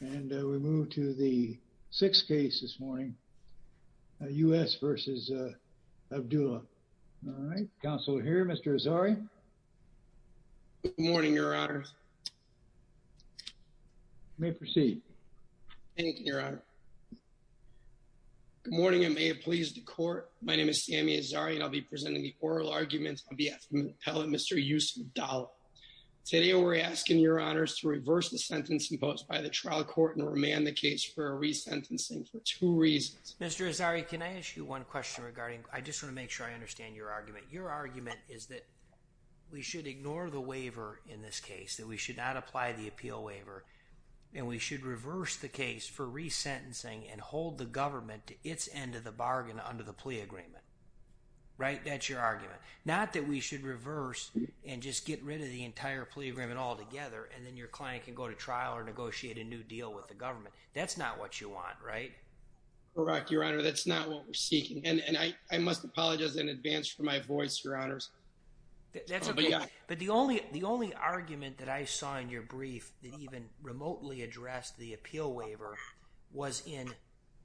And we move to the sixth case this morning, U.S. versus Abdullah. All right. Counselor here, Mr. Azari. Good morning, Your Honor. You may proceed. Thank you, Your Honor. Good morning, and may it please the Court. My name is Sammy Azari, and I'll be presenting the oral arguments on behalf of my appellant, Mr. Yousef Abdallah. Today, we're asking Your Court to remand the case for resentencing for two reasons. Mr. Azari, can I ask you one question regarding... I just want to make sure I understand your argument. Your argument is that we should ignore the waiver in this case, that we should not apply the appeal waiver, and we should reverse the case for resentencing and hold the government to its end of the bargain under the plea agreement. Right? That's your argument. Not that we should reverse and just get rid of the entire plea agreement altogether, and then your client can go to trial or negotiate a new deal with the government. That's not what you want, right? Correct, Your Honor. That's not what we're seeking, and I must apologize in advance for my voice, Your Honors. But the only argument that I saw in your brief that even remotely addressed the appeal waiver was in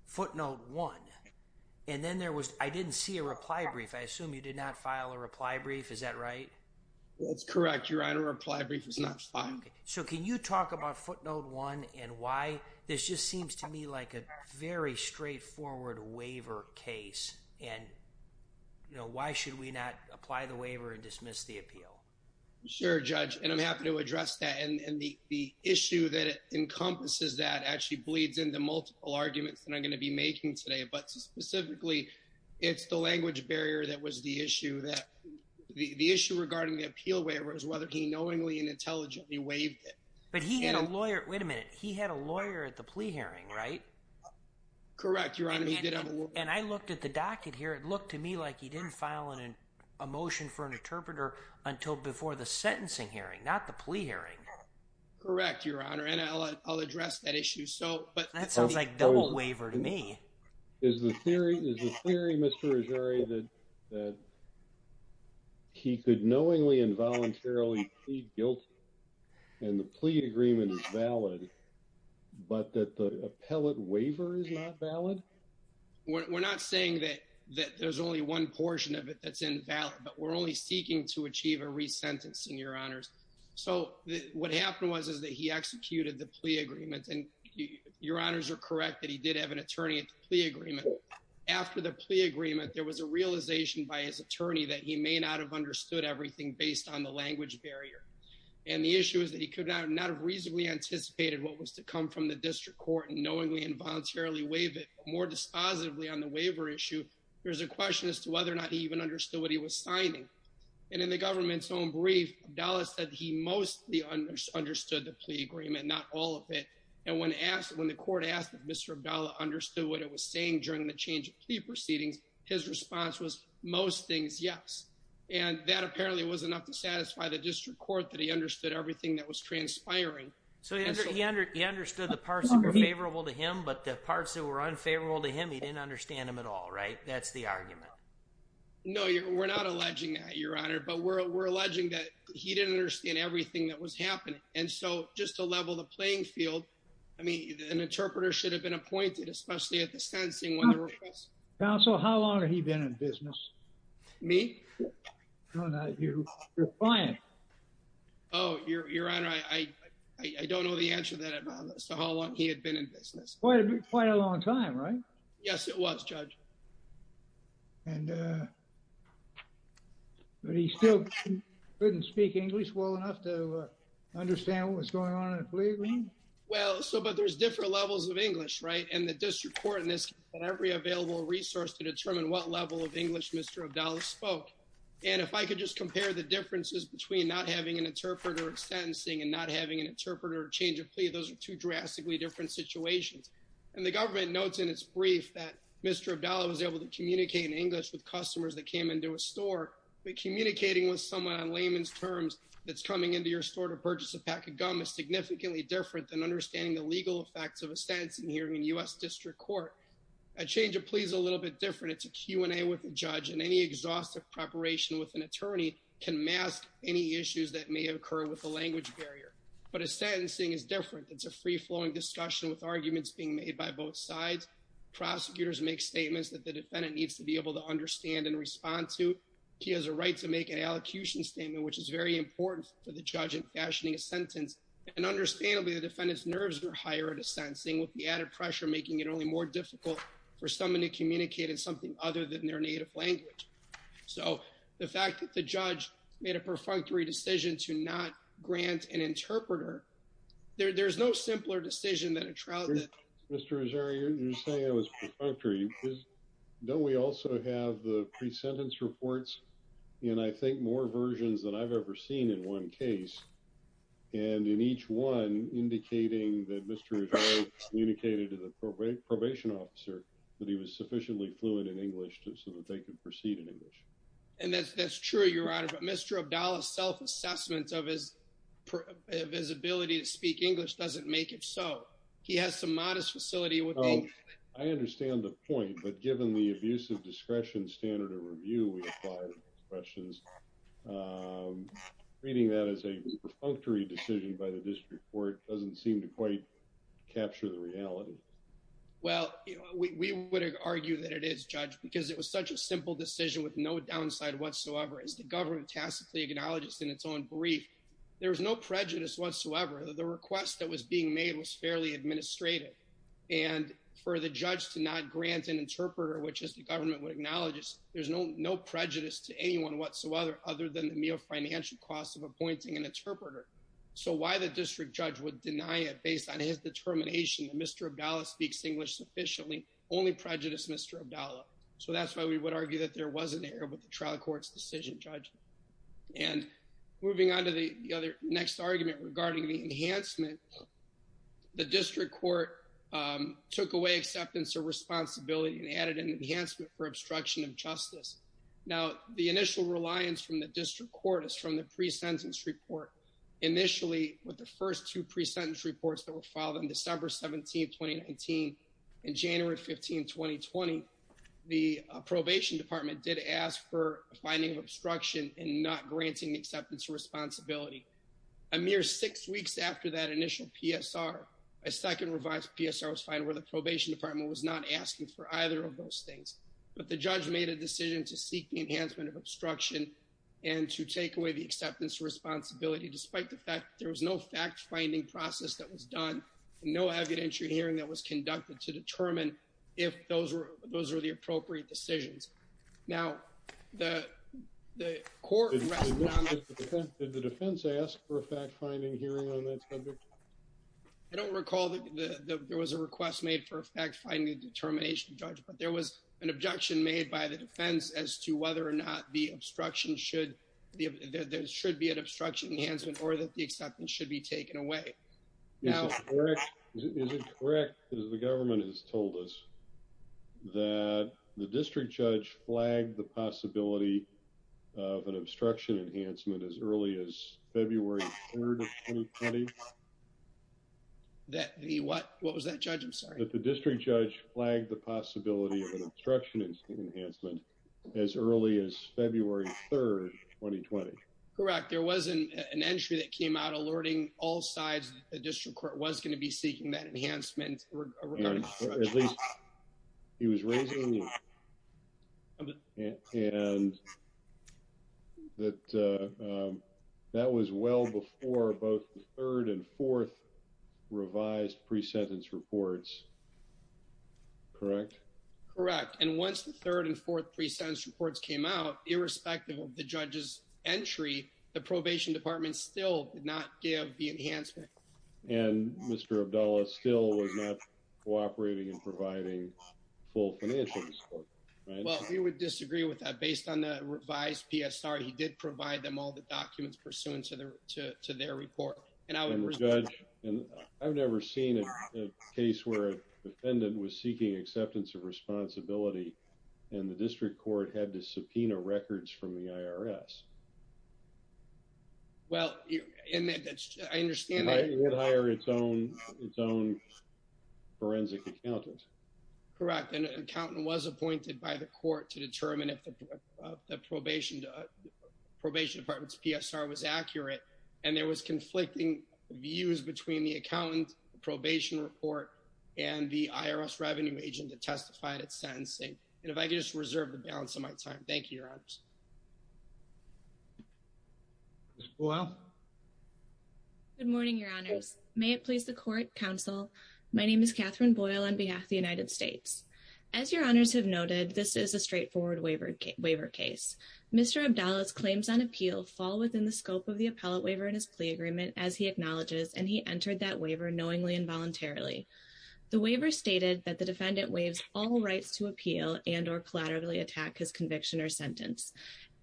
footnote one, and then there was... I didn't see a reply brief. I assume you did not find... Okay, so can you talk about footnote one and why this just seems to me like a very straightforward waiver case, and why should we not apply the waiver and dismiss the appeal? Sure, Judge, and I'm happy to address that, and the issue that encompasses that actually bleeds into multiple arguments that I'm going to be making today, but specifically, it's the language barrier that was the issue that... The issue regarding the appeal waiver is whether he knowingly and intelligently waived it. But he had a lawyer... Wait a minute. He had a lawyer at the plea hearing, right? Correct, Your Honor. He did have a lawyer. And I looked at the docket here. It looked to me like he didn't file a motion for an interpreter until before the sentencing hearing, not the plea hearing. Correct, Your Honor, and I'll address that issue. So, but... That sounds like double waiver to me. Is the theory, Mr. Azzarri, that he could knowingly and voluntarily plead guilty and the plea agreement is valid, but that the appellate waiver is not valid? We're not saying that there's only one portion of it that's invalid, but we're only seeking to achieve a re-sentencing, Your Honors. So, what happened was that he executed the plea agreement, and Your Honors are correct that he did have an attorney at the plea agreement. After the plea agreement, there was a realization by his attorney that he may not have understood everything based on the language barrier. And the issue is that he could not have reasonably anticipated what was to come from the district court and knowingly and voluntarily waive it. More dispositively on the waiver issue, there's a question as to whether or not he even understood what he was signing. And in the government's own brief, Abdallah said he mostly understood the plea agreement, not all of it. And when asked, when the court asked if Mr. Abdallah understood what it was during the change of plea proceedings, his response was most things, yes. And that apparently was enough to satisfy the district court that he understood everything that was transpiring. So, he understood the parts that were favorable to him, but the parts that were unfavorable to him, he didn't understand them at all, right? That's the argument. No, we're not alleging that, Your Honor, but we're alleging that he didn't understand everything that was happening. And so, just to level the playing field, I mean, an interpreter should have been one of the first to understand what was going on in the plea agreement. Counsel, how long had he been in business? Me? No, not you. You're lying. Oh, Your Honor, I don't know the answer to that about how long he had been in business. Quite a long time, right? Yes, it was, Judge. And, but he still couldn't speak English well enough to understand what was going on in the plea agreement? Well, so, but there's different levels of English, right? And the district court in this case had every available resource to determine what level of English Mr. Abdallah spoke. And if I could just compare the differences between not having an interpreter in sentencing and not having an interpreter to change a plea, those are two drastically different situations. And the government notes in its brief that Mr. Abdallah was able to communicate in English with customers that came into a store, but communicating with someone on layman's terms that's coming into your the legal effects of a sentencing hearing in U.S. district court. A change of plea is a little bit different. It's a Q and A with the judge and any exhaustive preparation with an attorney can mask any issues that may have occurred with the language barrier. But a sentencing is different. It's a free flowing discussion with arguments being made by both sides. Prosecutors make statements that the defendant needs to be able to understand and respond to. He has a right to make an allocution statement, which is very important for the judge in fashioning a sentence. And understandably, the defendant's nerves are higher at a sentencing with the added pressure making it only more difficult for someone to communicate in something other than their native language. So the fact that the judge made a perfunctory decision to not grant an interpreter, there's no simpler decision than a trial. Mr. Rosario, you're saying it was perfunctory. Don't we also have the pre-sentence reports and I think more versions than I've ever seen in one case. And in each one indicating that Mr. Rosario communicated to the probation officer that he was sufficiently fluent in English so that they could proceed in English. And that's true, Your Honor. But Mr. Abdallah's self-assessment of his ability to speak English doesn't make it so. He has some modest facility with English. I understand the point, but given the abuse of discretion standard of review we apply to questions, reading that as a perfunctory decision by the district court doesn't seem to quite capture the reality. Well, we would argue that it is, Judge, because it was such a simple decision with no downside whatsoever. As the government tasked the egonologist in its own brief, there was no prejudice whatsoever. The request that was being made was fairly administrative. And for the judge to not grant an interpreter, which is the government would acknowledge, there's no prejudice to anyone whatsoever other than the meal financial cost of appointing an interpreter. So why the district judge would deny it based on his determination that Mr. Abdallah speaks English sufficiently only prejudice Mr. Abdallah. So that's why we would argue that there wasn't an error with the trial court's decision, Judge. And moving on to the next argument regarding the enhancement, the district court took away acceptance of responsibility and added an enhancement for obstruction of justice. Now the initial reliance from the district court is from the pre-sentence report. Initially with the first two pre-sentence reports that were filed on December 17th, 2019 and January 15th, 2020, the probation department did ask for a finding of granting acceptance of responsibility. A mere six weeks after that initial PSR, a second revised PSR was filed where the probation department was not asking for either of those things. But the judge made a decision to seek the enhancement of obstruction and to take away the acceptance of responsibility despite the fact there was no fact finding process that was done, no evidentiary hearing that was conducted to determine if those were the appropriate decisions. Now the court... Did the defense ask for a fact-finding hearing on that subject? I don't recall that there was a request made for a fact-finding determination, Judge, but there was an objection made by the defense as to whether or not the obstruction should, there should be an obstruction enhancement or that the acceptance should be taken away. Is it correct, as the government has told us, that the district judge flagged the possibility of an obstruction enhancement as early as February 3rd, 2020? That the what? What was that, Judge? I'm sorry. That the district judge flagged the possibility of an obstruction enhancement as early as February 3rd, 2020. Correct. There was an entry that came out alerting all sides that the district court was going to be seeking that enhancement. At least he was raising... And that was well before both the third and fourth revised pre-sentence reports. Correct? Correct. And once the third and fourth pre-sentence reports came out, irrespective of the judge's entry, the probation department still did not give the enhancement. And Mr. Abdullah still was not cooperating in providing full financial support, right? Well, we would disagree with that. Based on the revised PSR, he did provide them all the documents pursuant to their report. And I would... Judge, I've never seen a case where a defendant was seeking acceptance of responsibility and the district court had to subpoena records from the IRS. Well, I understand that... It would hire its own forensic accountant. Correct. And an accountant was appointed by the court to determine if the probation department's PSR was accurate. And there was conflicting views between the And if I could just reserve the balance of my time. Thank you, Your Honors. Boyle? Good morning, Your Honors. May it please the court, counsel. My name is Catherine Boyle on behalf of the United States. As Your Honors have noted, this is a straightforward waiver case. Mr. Abdullah's claims on appeal fall within the scope of the appellate waiver in his plea agreement, as he acknowledges, and he entered that waiver knowingly and voluntarily. The waiver stated that the defendant waives all rights to appeal and or collaterally attack his conviction or sentence.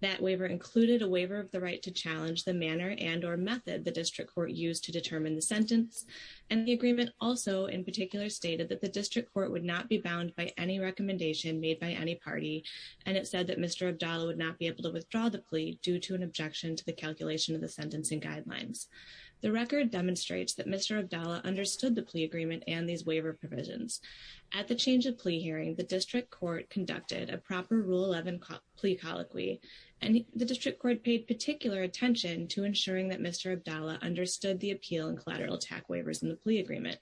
That waiver included a waiver of the right to challenge the manner and or method the district court used to determine the sentence. And the agreement also in particular stated that the district court would not be bound by any recommendation made by any party. And it said that Mr. Abdullah would not be able to withdraw the plea due to an objection to the calculation of the sentencing guidelines. The record demonstrates that Mr. Abdullah understood the plea agreement and these waiver provisions. At the change of plea hearing, the district court conducted a proper rule 11 plea colloquy, and the district court paid particular attention to ensuring that Mr. Abdullah understood the appeal and collateral attack waivers in the plea agreement.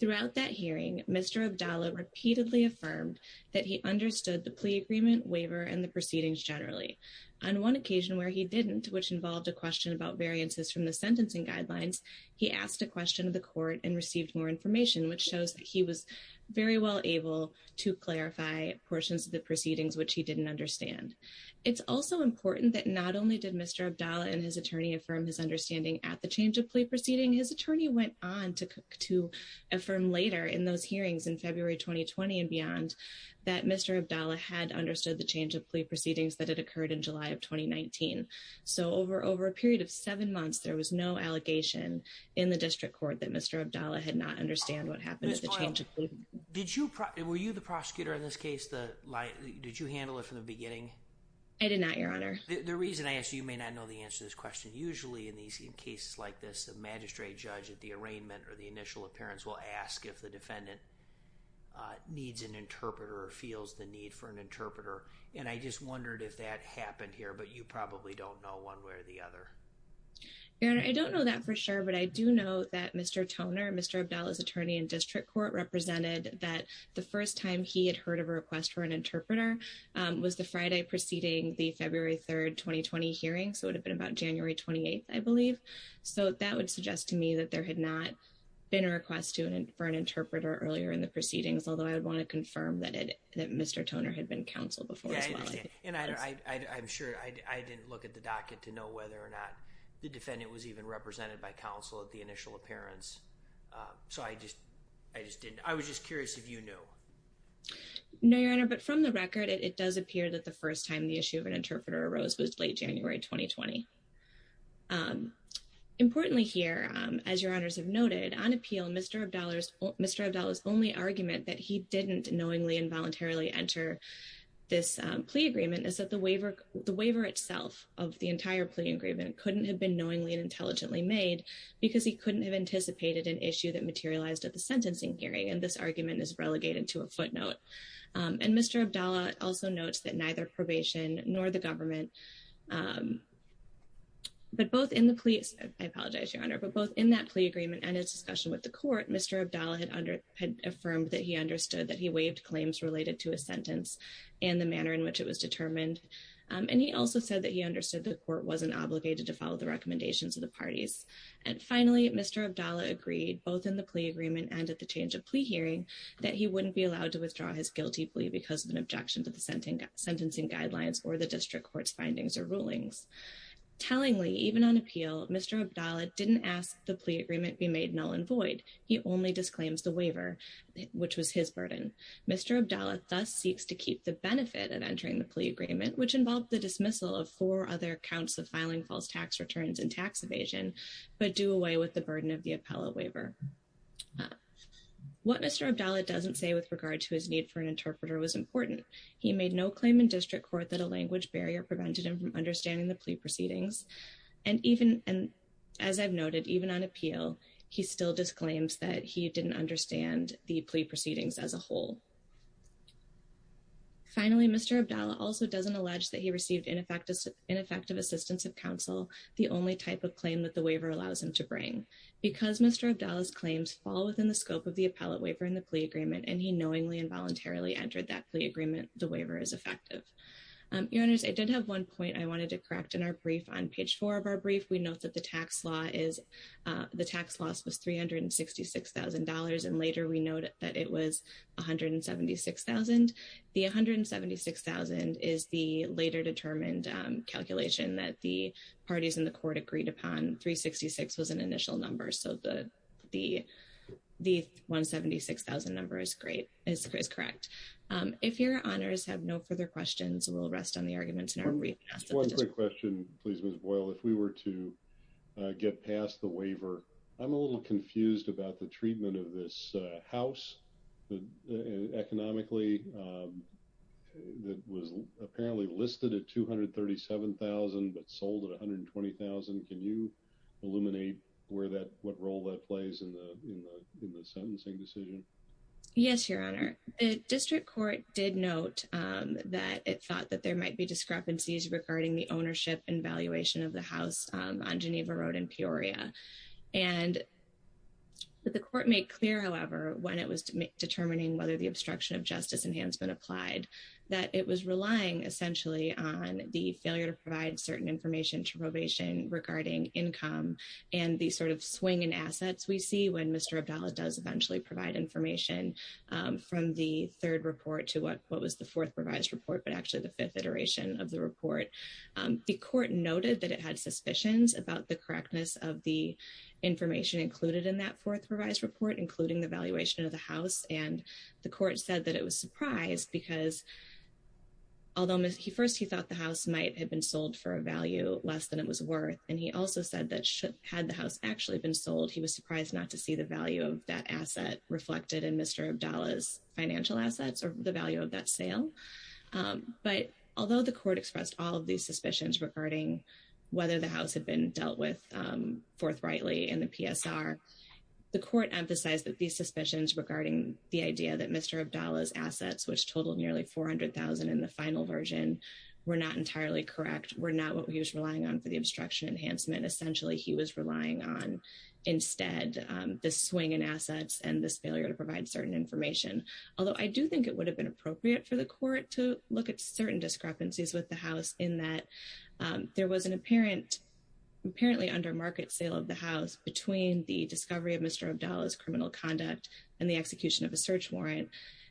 Throughout that hearing, Mr. Abdullah repeatedly affirmed that he understood the plea agreement, waiver, and the proceedings generally. On one occasion where he didn't, which involved a question about sentencing guidelines, he asked a question of the court and received more information, which shows that he was very well able to clarify portions of the proceedings which he didn't understand. It's also important that not only did Mr. Abdullah and his attorney affirm his understanding at the change of plea proceeding, his attorney went on to affirm later in those hearings in February 2020 and beyond that Mr. Abdullah had understood the change of plea proceedings that had occurred in July of 2019. So over a period of seven months, there was no allegation in the district court that Mr. Abdullah had not understand what happened at the change of plea. Ms. Boyle, were you the prosecutor in this case? Did you handle it from the beginning? I did not, Your Honor. The reason I ask, you may not know the answer to this question. Usually in these cases like this, a magistrate judge at the arraignment or the initial appearance will ask if the defendant needs an interpreter or feels the need for an interpreter. And I just wondered if that happened here, but you probably don't know one way or the other. Your Honor, I don't know that for sure, but I do know that Mr. Toner, Mr. Abdullah's attorney in district court, represented that the first time he had heard of a request for an interpreter was the Friday preceding the February 3rd, 2020 hearing. So it would have been about January 28th, I believe. So that would suggest to me that there had not been a request for an interpreter earlier in the proceedings, although I would want to confirm that Mr. Toner had been counsel before as well. And I'm sure I didn't look at the docket to know whether or not the defendant was even represented by counsel at the initial appearance. So I just didn't. I was just curious if you knew. No, Your Honor, but from the record, it does appear that the first time the issue of an interpreter was heard was the Friday before the February 3rd, 2020 hearing. Importantly here, as Your Honors have noted, on appeal, Mr. Abdullah's only argument that he didn't knowingly and voluntarily enter this plea agreement is that the waiver itself of the entire plea agreement couldn't have been knowingly and intelligently made because he couldn't have anticipated an issue that materialized at the sentencing hearing. And this argument is relegated to a footnote. And Mr. Abdullah also notes that neither probation nor the government, but both in the police, I apologize, Your Honor, but both in that plea agreement and its discussion with the court, Mr. Abdullah had affirmed that he understood that he waived claims related to a sentence and the manner in which it was determined. And he also said that he understood the court wasn't obligated to follow the recommendations of the parties. And finally, Mr. Abdullah agreed both in the plea agreement and at the change of plea hearing that he wouldn't be allowed to withdraw his guilty plea because of an objection to the sentencing guidelines or the district court's findings or rulings. Tellingly, even on appeal, Mr. Abdullah didn't ask the plea agreement be made null and void. He only disclaims the waiver, which was his burden. Mr. Abdullah thus seeks to keep the benefit of entering the plea agreement, which involved the dismissal of four other counts of filing false tax returns and tax evasion, but do away with the burden of the appellate waiver. What Mr. Abdullah doesn't say with regard to his need for an interpreter was important. He made no claim in district court that a language barrier prevented him from understanding the plea proceedings. And as I've noted, even on appeal, he still disclaims that he didn't understand the plea proceedings as a whole. Finally, Mr. Abdullah also doesn't allege that received ineffective assistance of counsel, the only type of claim that the waiver allows him to bring. Because Mr. Abdullah's claims fall within the scope of the appellate waiver in the plea agreement, and he knowingly and voluntarily entered that plea agreement, the waiver is effective. Your honors, I did have one point I wanted to correct in our brief. On page four of our brief, we note that the tax loss was $366,000, and later we note that it was $176,000. The $176,000 is the later determined calculation that the parties in the court agreed upon. $366,000 was an initial number, so the $176,000 number is correct. If your honors have no further questions, we'll rest on the arguments in our brief. Just one quick question, please, Ms. Boyle. If we were to get past the waiver, I'm a little confused about the treatment of this house economically. It was apparently listed at $237,000, but sold at $120,000. Can you illuminate what role that plays in the sentencing decision? Yes, your honor. The district court did note that it thought that there might be discrepancies regarding the ownership and valuation of the house on Geneva Road in Peoria. The court made clear, when it was determining whether the obstruction of justice enhancement applied, that it was relying essentially on the failure to provide certain information to probation regarding income and the sort of swing in assets we see when Mr. Abdallah does eventually provide information from the third report to what was the fourth revised report, but actually the fifth iteration of the report. The court noted that it had suspicions about the correctness of the valuation of the house, and the court said that it was surprised because, although first he thought the house might have been sold for a value less than it was worth, and he also said that should had the house actually been sold, he was surprised not to see the value of that asset reflected in Mr. Abdallah's financial assets or the value of that sale. But although the court expressed all of these suspicions regarding whether the house had been dealt with forthrightly in the PSR, the court emphasized that these suspicions regarding the idea that Mr. Abdallah's assets, which totaled nearly $400,000 in the final version, were not entirely correct, were not what he was relying on for the obstruction enhancement. Essentially, he was relying on, instead, the swing in assets and this failure to provide certain information. Although I do think it would have been appropriate for the court to look at certain discrepancies with the house in that there was an apparently under market sale of the house between the discovery of Mr. Abdallah's criminal conduct and the execution of a search warrant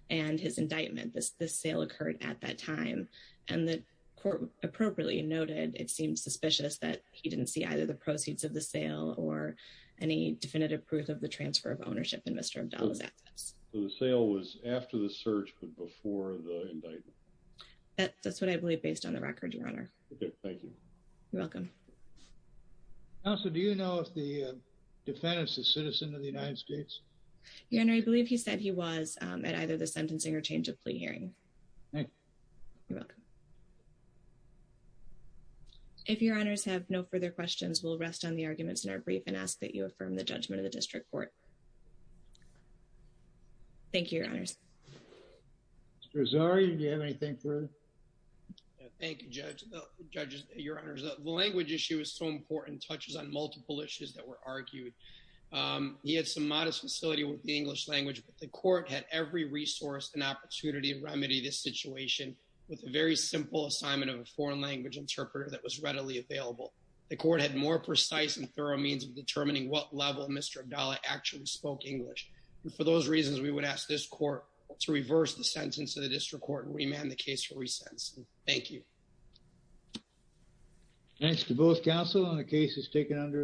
and his indictment. This sale occurred at that time, and the court appropriately noted it seemed suspicious that he didn't see either the proceeds of the sale or any definitive proof of the transfer of ownership in Mr. Abdallah's assets. So the sale was after the search but before the indictment. That's what I believe based on the record, Your Honor. Okay, thank you. You're welcome. Counselor, do you know if the defendant is a citizen of the United States? Your Honor, I believe he said he was at either the sentencing or change of plea hearing. Thank you. You're welcome. If Your Honors have no further questions, we'll rest on the arguments in our brief and ask that you affirm the judgment of the district court. Thank you, Your Honors. Mr. Azari, do you have anything for us? Thank you, Judge. Your Honors, the language issue is so important, touches on multiple issues that were argued. He had some modest facility with the English language, but the court had every resource and opportunity to remedy this situation with a very simple assignment of a foreign language interpreter that was readily available. The court had more precise and thorough means of determining what level Mr. Abdallah actually spoke English. For those reasons, we would ask this court to reverse the sentence of the district court and remand the case for re-sentence. Thank you. Thanks to both counsel on the cases taken under advisement.